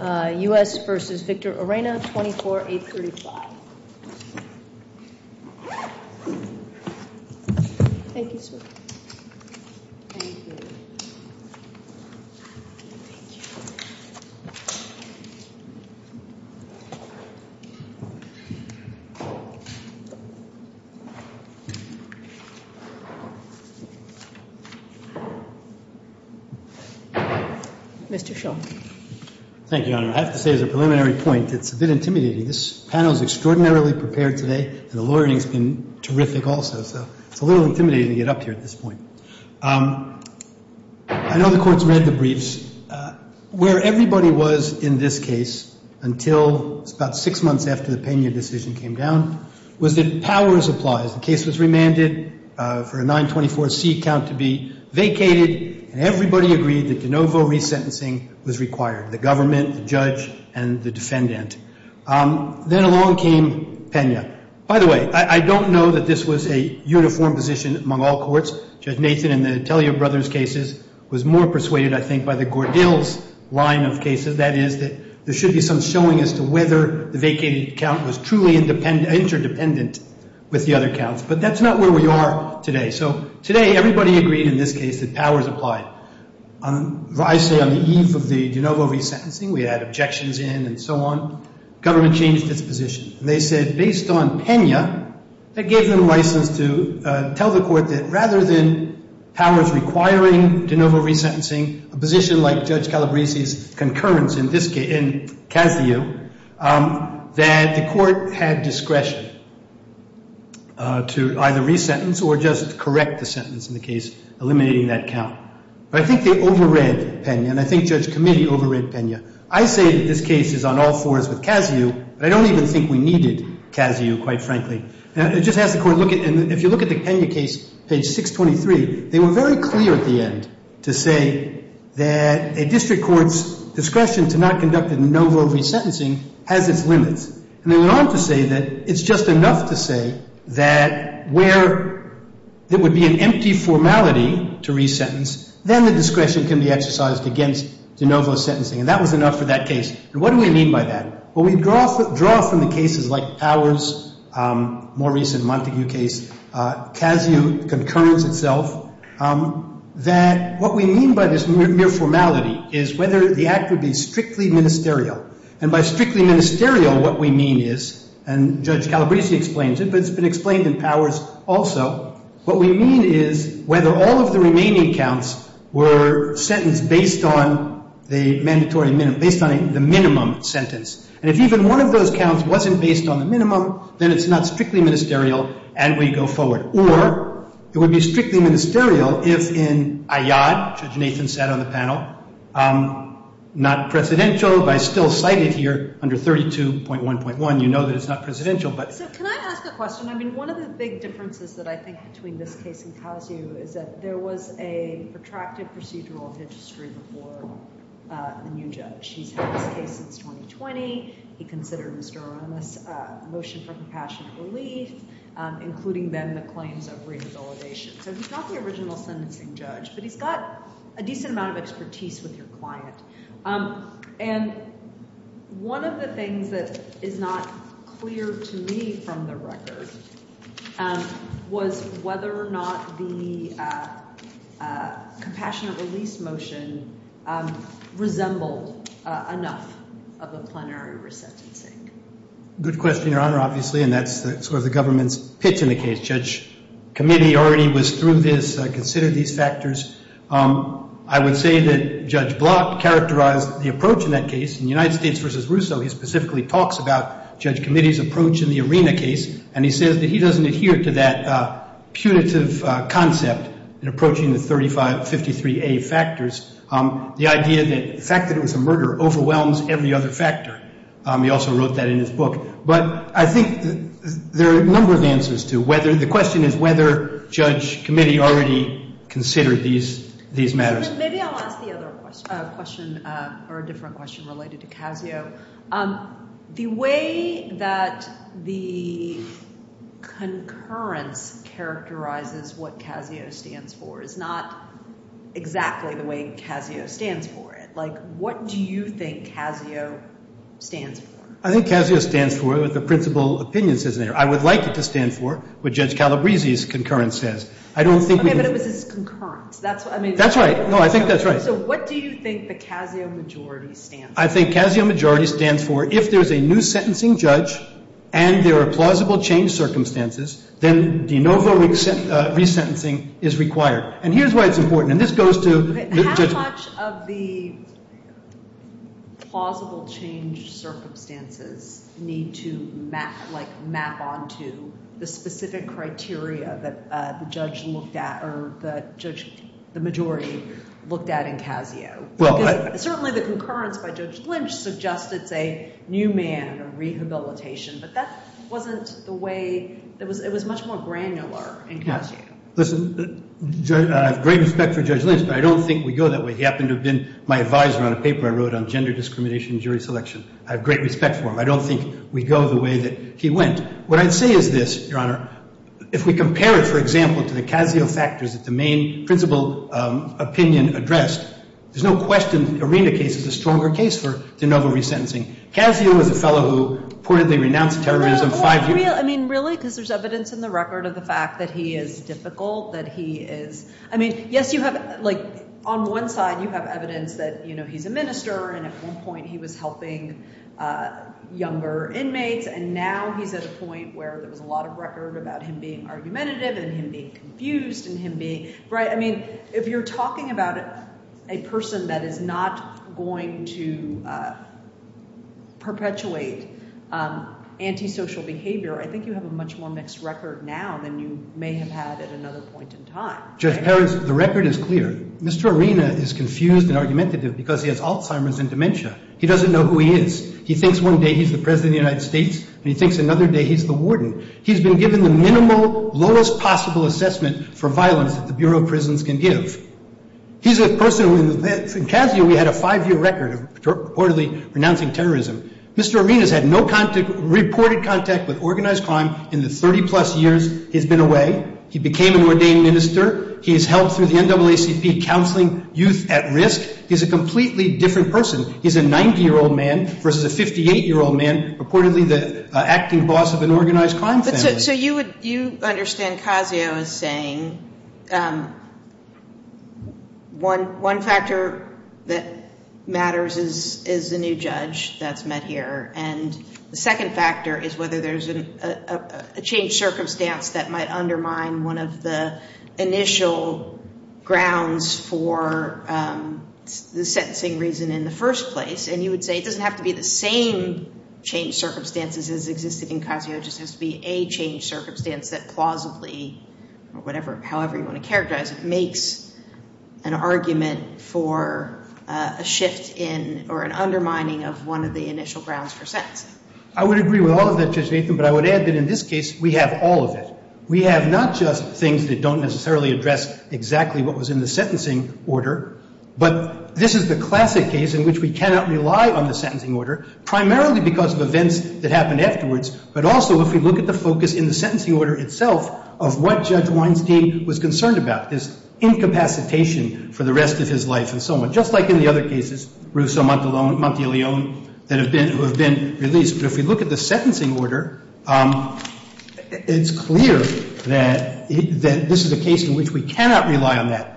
U.S. v. Victor Orena, 24-835. Thank you, sir. Mr. Shull. Thank you, Your Honor. I have to say, as a preliminary point, it's a bit intimidating. This panel is extraordinarily prepared today, and the lawyering's been terrific also. So it's a little intimidating to get up here at this point. I know the Court's read the briefs. Where everybody was in this case until about six months after the Pena decision came down was that powers applies. The case was remanded for a 924C count to be vacated, and everybody agreed that de novo resentencing was required. The government, the judge, and the defendant. Then along came Pena. By the way, I don't know that this was a uniform position among all courts. Judge Nathan in the Atelier brothers' cases was more persuaded, I think, by the Gordill's line of cases. That is, that there should be some showing as to whether the vacated count was truly interdependent with the other counts. But that's not where we are today. So today, everybody agreed in this case that powers apply. I say on the eve of the de novo resentencing, we had objections in and so on. Government changed its position. They said based on Pena, that gave them license to tell the Court that rather than powers requiring de novo resentencing, a position like Judge Calabresi's concurrence in this case, in Cazio, that the Court had discretion to either resentence or just correct the sentence in the case, eliminating that count. But I think they over-read Pena, and I think Judge Comittee over-read Pena. I say that this case is on all fours with Cazio, but I don't even think we needed Cazio, quite frankly. It just has the Court look at, and if you look at the Pena case, page 623, they were very clear at the end to say that a district court's discretion to not conduct de novo resentencing has its limits. And they went on to say that it's just enough to say that where there would be an empty formality to resentence, then the discretion can be exercised against de novo sentencing. And that was enough for that case. And what do we mean by that? Well, we draw from the cases like Powers' more recent Montague case, Cazio, concurrence itself, that what we mean by this mere formality is whether the act would be strictly ministerial. And by strictly ministerial, what we mean is, and Judge Calabresi explains it, but it's been explained in Powers also, what we mean is whether all of the remaining counts were sentenced based on the mandatory minimum, based on the minimum sentence. And if even one of those counts wasn't based on the minimum, then it's not strictly ministerial and we go forward. Or it would be strictly ministerial if in Ayad, Judge Nathan said on the panel, not presidential, but I still cite it here under 32.1.1, you know that it's not presidential. So can I ask a question? I mean, one of the big differences that I think between this case and Cazio is that there was a protracted procedural history before the new judge. He's had this case since 2020. He considered Mr. Aronoff's motion for compassionate relief, including then the claims of revalidation. So he's not the original sentencing judge, but he's got a decent amount of expertise with your client. And one of the things that is not clear to me from the record was whether or not the compassionate release motion resembled enough of a plenary resentencing. Good question, Your Honor, obviously, and that's sort of the government's pitch in the case. Judge Committee already was through this, considered these factors. I would say that Judge Blatt characterized the approach in that case. In United States v. Russo, he specifically talks about Judge Committee's approach in the Arena case, and he says that he doesn't adhere to that punitive concept in approaching the 353A factors, the idea that the fact that it was a murder overwhelms every other factor. He also wrote that in his book. But I think there are a number of answers to whether. The question is whether Judge Committee already considered these matters. Maybe I'll ask the other question or a different question related to CASIO. The way that the concurrence characterizes what CASIO stands for is not exactly the way CASIO stands for it. Like, what do you think CASIO stands for? I think CASIO stands for the principal opinions, isn't it? Or I would like it to stand for what Judge Calabresi's concurrence says. I don't think we can. Okay, but it was his concurrence. That's what I mean. That's right. No, I think that's right. So what do you think the CASIO majority stands for? I think CASIO majority stands for if there's a new sentencing judge and there are plausible change circumstances, then de novo resentencing is required. And here's why it's important. How much of the plausible change circumstances need to, like, map onto the specific criteria that the judge looked at or the majority looked at in CASIO? Because certainly the concurrence by Judge Lynch suggests it's a new man or rehabilitation, but that wasn't the way it was. It was much more granular in CASIO. Listen, I have great respect for Judge Lynch, but I don't think we go that way. He happened to have been my advisor on a paper I wrote on gender discrimination and jury selection. I have great respect for him. I don't think we go the way that he went. What I'd say is this, Your Honor. If we compare it, for example, to the CASIO factors that the main principal opinion addressed, there's no question the Arena case is a stronger case for de novo resentencing. CASIO is a fellow who reportedly renounced terrorism five years ago. I mean, really? Because there's evidence in the record of the fact that he is difficult, that he is. I mean, yes, you have, like, on one side you have evidence that, you know, he's a minister, and at one point he was helping younger inmates, and now he's at a point where there was a lot of record about him being argumentative and him being confused and him being. Right. I mean, if you're talking about a person that is not going to perpetuate antisocial behavior, I think you have a much more mixed record now than you may have had at another point in time. Judge Perkins, the record is clear. Mr. Arena is confused and argumentative because he has Alzheimer's and dementia. He doesn't know who he is. He thinks one day he's the president of the United States, and he thinks another day he's the warden. He's been given the minimal, lowest possible assessment for violence that the Bureau of Prisons can give. He's a person who in Casio we had a five-year record of reportedly renouncing terrorism. Mr. Arena's had no reported contact with organized crime in the 30-plus years he's been away. He became an ordained minister. He's helped through the NAACP counseling youth at risk. He's a completely different person. He's a 90-year-old man versus a 58-year-old man, reportedly the acting boss of an organized crime family. So you understand Casio as saying one factor that matters is the new judge that's met here, and the second factor is whether there's a changed circumstance that might undermine one of the initial grounds for the sentencing reason in the first place. And you would say it doesn't have to be the same changed circumstances as existed in Casio. It just has to be a changed circumstance that plausibly, or whatever, however you want to characterize it, an argument for a shift in or an undermining of one of the initial grounds for sentencing. I would agree with all of that, Judge Nathan, but I would add that in this case we have all of it. We have not just things that don't necessarily address exactly what was in the sentencing order, but this is the classic case in which we cannot rely on the sentencing order, primarily because of events that happened afterwards, but also if we look at the focus in the sentencing order itself of what Judge Weinstein was concerned about. This incapacitation for the rest of his life and so on. Just like in the other cases, Rousseau, Montilione, who have been released. But if we look at the sentencing order, it's clear that this is a case in which we cannot rely on that.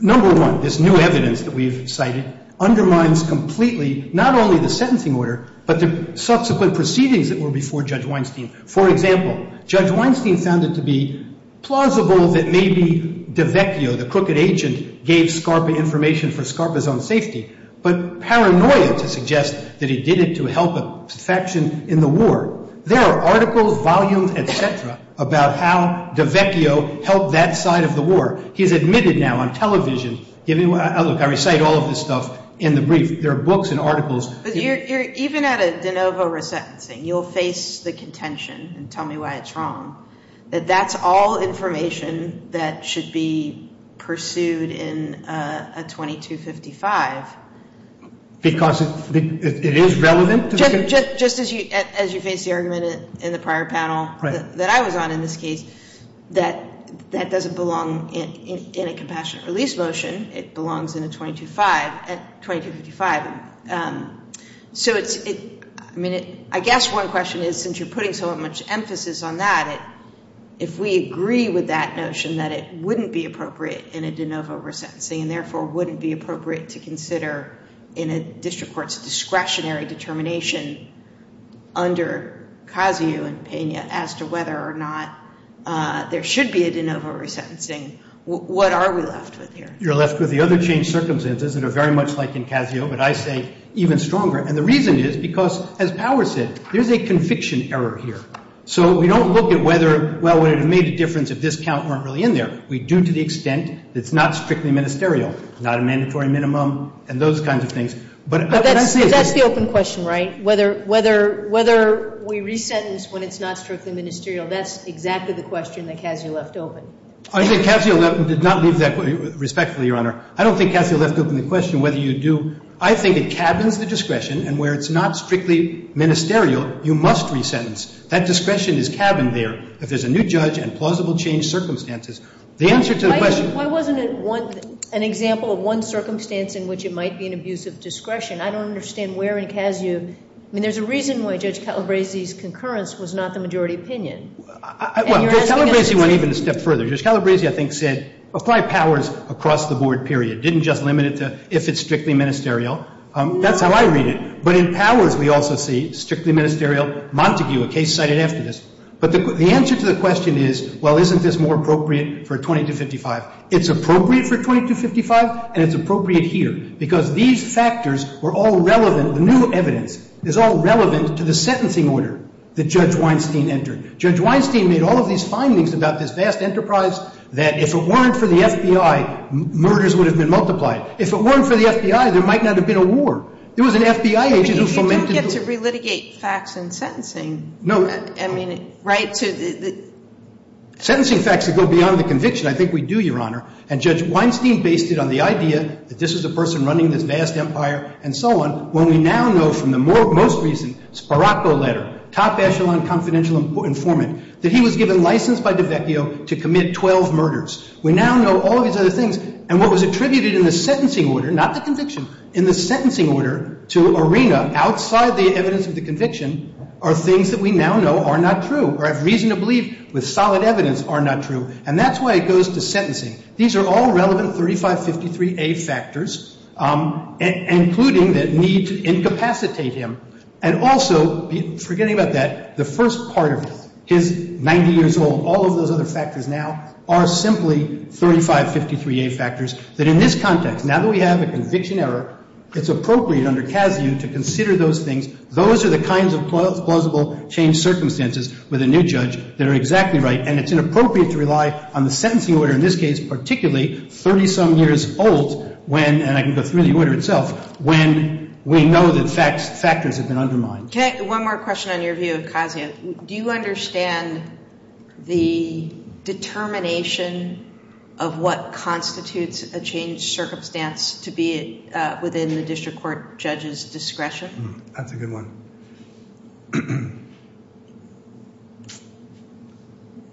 Number one, this new evidence that we've cited undermines completely not only the sentencing order, but the subsequent proceedings that were before Judge Weinstein. For example, Judge Weinstein found it to be plausible that maybe DiVecchio, the crooked agent, gave Scarpa information for Scarpa's own safety, but paranoia to suggest that he did it to help a faction in the war. There are articles, volumes, et cetera, about how DiVecchio helped that side of the war. He's admitted now on television. Look, I recite all of this stuff in the brief. There are books and articles. Even at a de novo resentencing, you'll face the contention, and tell me why it's wrong, that that's all information that should be pursued in a 2255. Because it is relevant? Just as you faced the argument in the prior panel that I was on in this case, that that doesn't belong in a compassionate release motion. It belongs in a 2255. I guess one question is, since you're putting so much emphasis on that, if we agree with that notion that it wouldn't be appropriate in a de novo resentencing and therefore wouldn't be appropriate to consider in a district court's discretionary determination under Cossio and Pena as to whether or not there should be a de novo resentencing, what are we left with here? You're left with the other changed circumstances that are very much like in Cossio, but I say even stronger. And the reason is because, as Power said, there's a conviction error here. So we don't look at whether, well, would it have made a difference if this count weren't really in there. We do to the extent that it's not strictly ministerial, not a mandatory minimum, and those kinds of things. But that's the open question, right? Whether we resentence when it's not strictly ministerial, that's exactly the question that Cossio left open. I think Cossio did not leave that respectfully, Your Honor. I don't think Cossio left open the question whether you do. I think it cabins the discretion, and where it's not strictly ministerial, you must resentence. That discretion is cabined there. If there's a new judge and plausible changed circumstances, the answer to the question Why wasn't it an example of one circumstance in which it might be an abusive discretion? I don't understand where in Cossio ñ I mean, there's a reason why Judge Calabresi's concurrence was not the majority opinion. Well, Judge Calabresi went even a step further. Judge Calabresi, I think, said apply powers across the board, period. Didn't just limit it to if it's strictly ministerial. That's how I read it. But in powers, we also see strictly ministerial Montague, a case cited after this. But the answer to the question is, well, isn't this more appropriate for 2255? It's appropriate for 2255, and it's appropriate here because these factors were all relevant. The new evidence is all relevant to the sentencing order that Judge Weinstein entered. Judge Weinstein made all of these findings about this vast enterprise that if it weren't for the FBI, murders would have been multiplied. If it weren't for the FBI, there might not have been a war. There was an FBI agent who fomented the war. But you don't get to relitigate facts in sentencing. No. I mean, right to the ñ Sentencing facts that go beyond the conviction, I think we do, Your Honor. And Judge Weinstein based it on the idea that this is a person running this vast empire and so on. And so we now know from the most recent Sparacco letter, top echelon confidential informant, that he was given license by DiVecchio to commit 12 murders. We now know all of these other things. And what was attributed in the sentencing order, not the conviction, in the sentencing order to Arena, outside the evidence of the conviction, are things that we now know are not true, or have reason to believe with solid evidence are not true. And that's why it goes to sentencing. These are all relevant 3553A factors, including the need to incapacitate him. And also, forgetting about that, the first part of it, his 90 years old, all of those other factors now are simply 3553A factors that in this context, now that we have a conviction error, it's appropriate under CASU to consider those things. Those are the kinds of plausible change circumstances with a new judge that are exactly right. And it's inappropriate to rely on the sentencing order in this case, particularly 30-some years old, and I can go through the order itself, when we know that factors have been undermined. One more question on your view of CASIA. Do you understand the determination of what constitutes a change circumstance to be within the district court judge's discretion? That's a good one.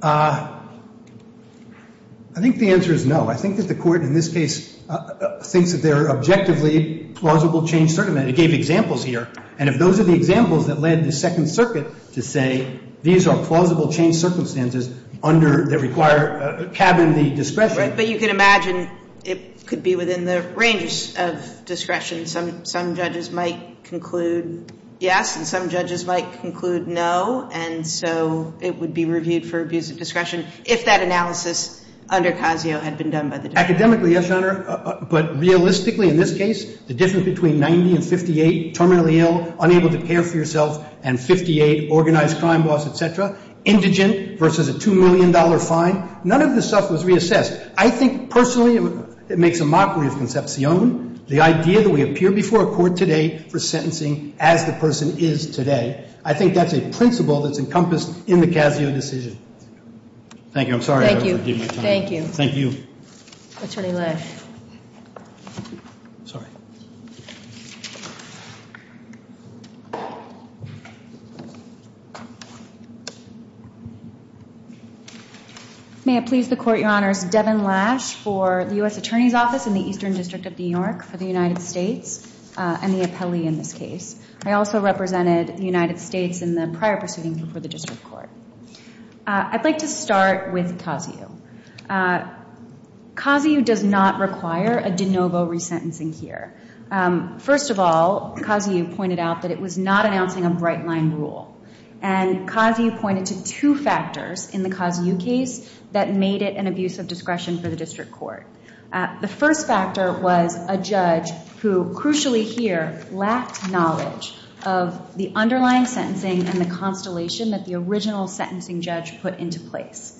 I think the answer is no. I think that the court in this case thinks that there are objectively plausible change circumstances. It gave examples here. And if those are the examples that led the Second Circuit to say, these are plausible change circumstances under the required cabin of the discretion. Right. But you can imagine it could be within the range of discretion. Some judges might conclude yes, and some judges might conclude no, and so it would be reviewed for abuse of discretion if that analysis under CASIO had been done by the district. Academically, yes, Your Honor, but realistically in this case, the difference between 90 and 58, terminally ill, unable to care for yourself, and 58, organized crime boss, et cetera, indigent versus a $2 million fine, none of this stuff was reassessed. I think personally it makes a mockery of concepcion, the idea that we appear before a court today for sentencing as the person is today. I think that's a principle that's encompassed in the CASIO decision. Thank you. I'm sorry. Thank you. Attorney Lesh. Sorry. May it please the Court, Your Honors, Devin Lesh for the U.S. Attorney's Office in the Eastern District of New York for the United States, and the appellee in this case. I also represented the United States in the prior proceedings before the district court. I'd like to start with CASIO. CASIO does not require a de novo resentencing here. First of all, CASIO pointed out that it was not announcing a bright-line rule, and CASIO pointed to two factors in the CASIO case that made it an abuse of discretion for the district court. The first factor was a judge who, crucially here, lacked knowledge of the underlying sentencing and the constellation that the original sentencing judge put into place.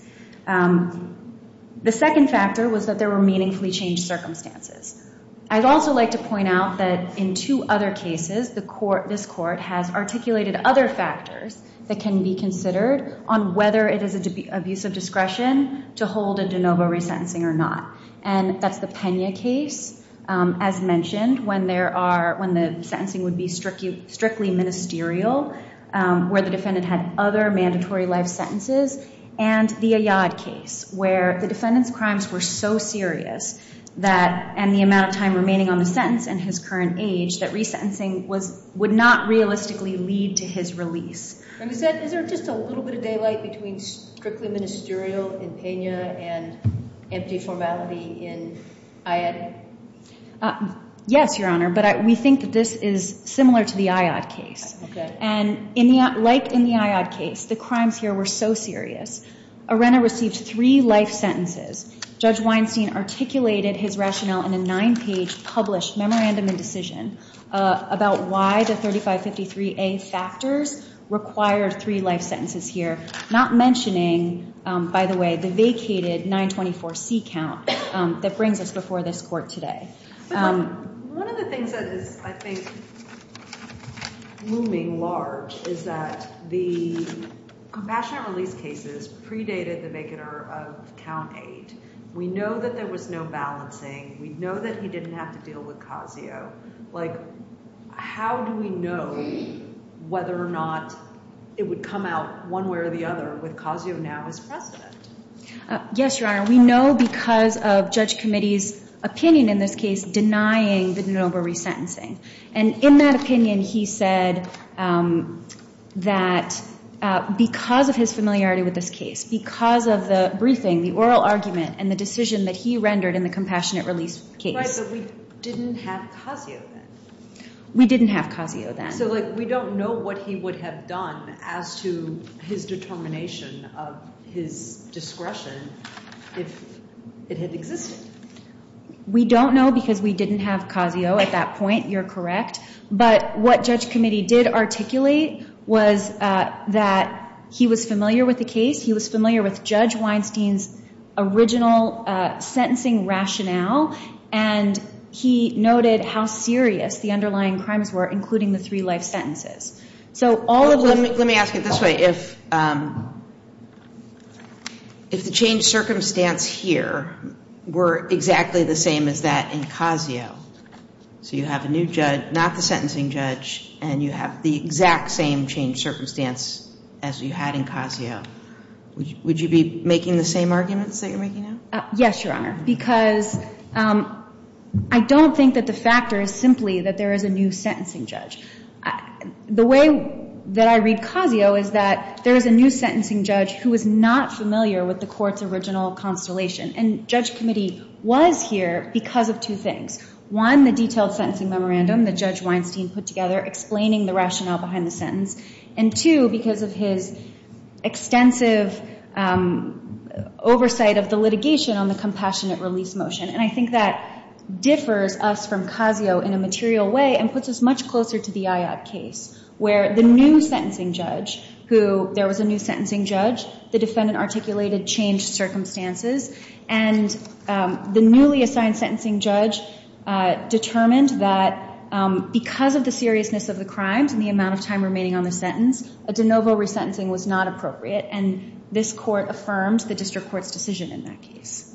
The second factor was that there were meaningfully changed circumstances. I'd also like to point out that in two other cases, this court has articulated other factors that can be considered on whether it is an abuse of discretion to hold a de novo resentencing or not. And that's the Pena case, as mentioned, when the sentencing would be strictly ministerial, where the defendant had other mandatory life sentences, and the Ayad case, where the defendant's crimes were so serious, and the amount of time remaining on the sentence in his current age, that resentencing would not realistically lead to his release. Is there just a little bit of daylight between strictly ministerial in Pena and empty formality in Ayad? Yes, Your Honor, but we think that this is similar to the Ayad case. And like in the Ayad case, the crimes here were so serious, Arenda received three life sentences. Judge Weinstein articulated his rationale in a nine-page published memorandum and decision about why the 3553A factors required three life sentences here, not mentioning, by the way, the vacated 924C count that brings us before this court today. One of the things that is, I think, looming large is that the compassionate release cases predated the vacater of count eight. We know that there was no balancing. We know that he didn't have to deal with Cosio. Like, how do we know whether or not it would come out one way or the other with Cosio now as precedent? Yes, Your Honor. We know because of Judge Committee's opinion in this case denying the de novo resentencing. And in that opinion, he said that because of his familiarity with this case, because of the briefing, the oral argument, and the decision that he rendered in the compassionate release case. Right, but we didn't have Cosio then. We didn't have Cosio then. So, like, we don't know what he would have done as to his determination of his discretion if it had existed. We don't know because we didn't have Cosio at that point. You're correct. But what Judge Committee did articulate was that he was familiar with the case. He was familiar with Judge Weinstein's original sentencing rationale. And he noted how serious the underlying crimes were, including the three life sentences. So all of the – Let me ask it this way. If the changed circumstance here were exactly the same as that in Cosio, so you have a new judge, not the sentencing judge, and you have the exact same changed circumstance as you had in Cosio, would you be making the same arguments that you're making now? Yes, Your Honor. Because I don't think that the factor is simply that there is a new sentencing judge. The way that I read Cosio is that there is a new sentencing judge who is not familiar with the court's original constellation. And Judge Committee was here because of two things. One, the detailed sentencing memorandum that Judge Weinstein put together explaining the rationale behind the sentence. And two, because of his extensive oversight of the litigation on the compassionate release motion. And I think that differs us from Cosio in a material way and puts us much closer to the Ayotte case, where the new sentencing judge who – there was a new sentencing judge. The defendant articulated changed circumstances. And the newly assigned sentencing judge determined that because of the seriousness of the crimes and the amount of time remaining on the sentence, a de novo resentencing was not appropriate. And this court affirmed the district court's decision in that case.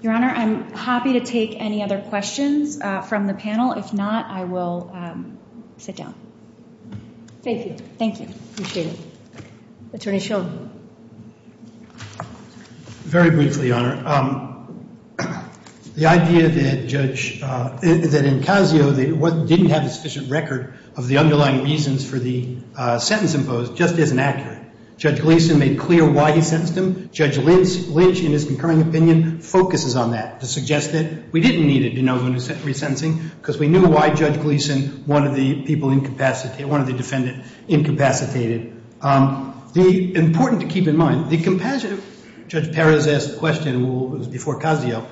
Your Honor, I'm happy to take any other questions from the panel. If not, I will sit down. Thank you. Thank you. Appreciate it. Attorney Sheldon. Very briefly, Your Honor. The idea that Judge – that in Cosio, what didn't have a sufficient record of the underlying reasons for the sentence imposed just isn't accurate. Judge Gleeson made clear why he sentenced him. Judge Lynch, in his concurring opinion, focuses on that to suggest that we didn't need a de novo resentencing because we knew why Judge Gleeson wanted the defendant incapacitated. The – important to keep in mind, the compassionate – Judge Perez asked the question before Cosio.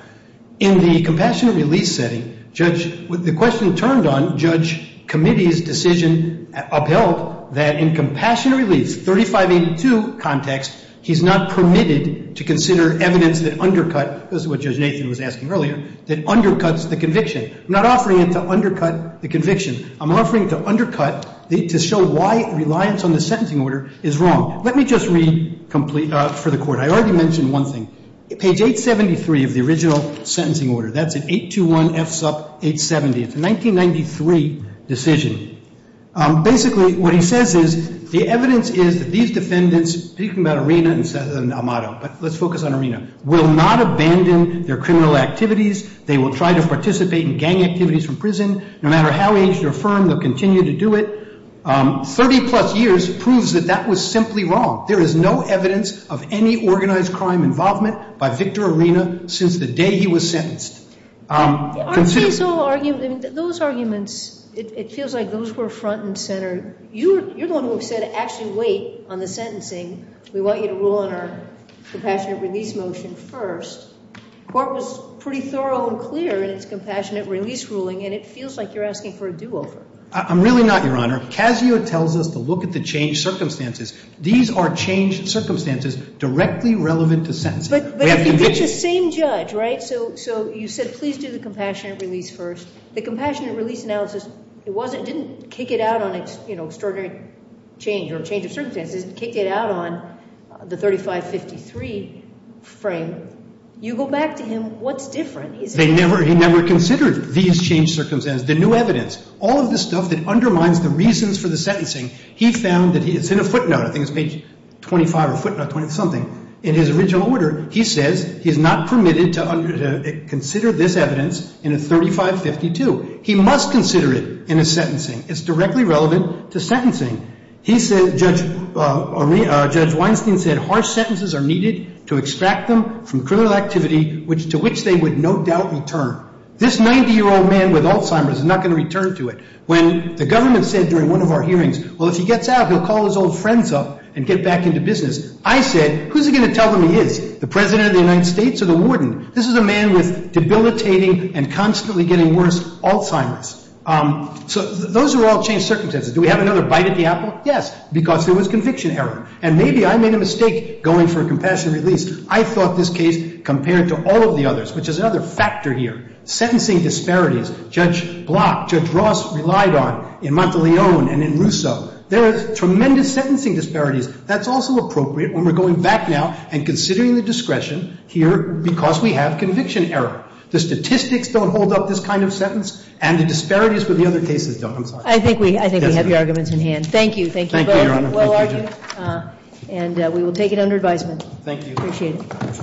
In the compassionate release setting, Judge – the question turned on Judge Committee's decision upheld that in compassionate release, 3582 context, he's not permitted to consider evidence that undercut – this is what Judge Nathan was asking earlier – that undercuts the conviction. I'm not offering it to undercut the conviction. I'm offering it to undercut – to show why reliance on the sentencing order is wrong. Let me just read for the court. I already mentioned one thing. Page 873 of the original sentencing order. That's an 821 FSUP 870. It's a 1993 decision. Basically, what he says is the evidence is that these defendants – speaking about Arena and Amado, but let's focus on Arena – will not abandon their criminal activities. They will try to participate in gang activities from prison. No matter how aged or firm, they'll continue to do it. Thirty-plus years proves that that was simply wrong. There is no evidence of any organized crime involvement by Victor Arena since the day he was sentenced. Aren't these all arguments – those arguments, it feels like those were front and center. You're the one who said actually wait on the sentencing. We want you to rule on our compassionate release motion first. The court was pretty thorough and clear in its compassionate release ruling, and it feels like you're asking for a do-over. I'm really not, Your Honor. Casio tells us to look at the changed circumstances. These are changed circumstances directly relevant to sentencing. But if you get your same judge, right? So you said please do the compassionate release first. The compassionate release analysis, it didn't kick it out on extraordinary change or change of circumstances. It kicked it out on the 3553 frame. You go back to him. What's different? He never considered these changed circumstances, the new evidence, all of the stuff that undermines the reasons for the sentencing. He found that – it's in a footnote. I think it's page 25 or footnote 20-something. In his original order, he says he's not permitted to consider this evidence in a 3552. He must consider it in his sentencing. It's directly relevant to sentencing. Judge Weinstein said harsh sentences are needed to extract them from criminal activity to which they would no doubt return. This 90-year-old man with Alzheimer's is not going to return to it. When the government said during one of our hearings, well, if he gets out, he'll call his old friends up and get back into business. I said, who's he going to tell them he is, the president of the United States or the warden? This is a man with debilitating and constantly getting worse Alzheimer's. So those are all changed circumstances. Do we have another bite at the apple? Yes, because there was conviction error. And maybe I made a mistake going for a compassion release. I thought this case compared to all of the others, which is another factor here. Sentencing disparities. Judge Block, Judge Ross relied on in Monteleone and in Russo. There are tremendous sentencing disparities. That's also appropriate when we're going back now and considering the discretion here because we have conviction error. The statistics don't hold up this kind of sentence, and the disparities with the other cases don't. I think we have your arguments in hand. Thank you. Thank you. And we will take it under advisement. Thank you. Appreciate it.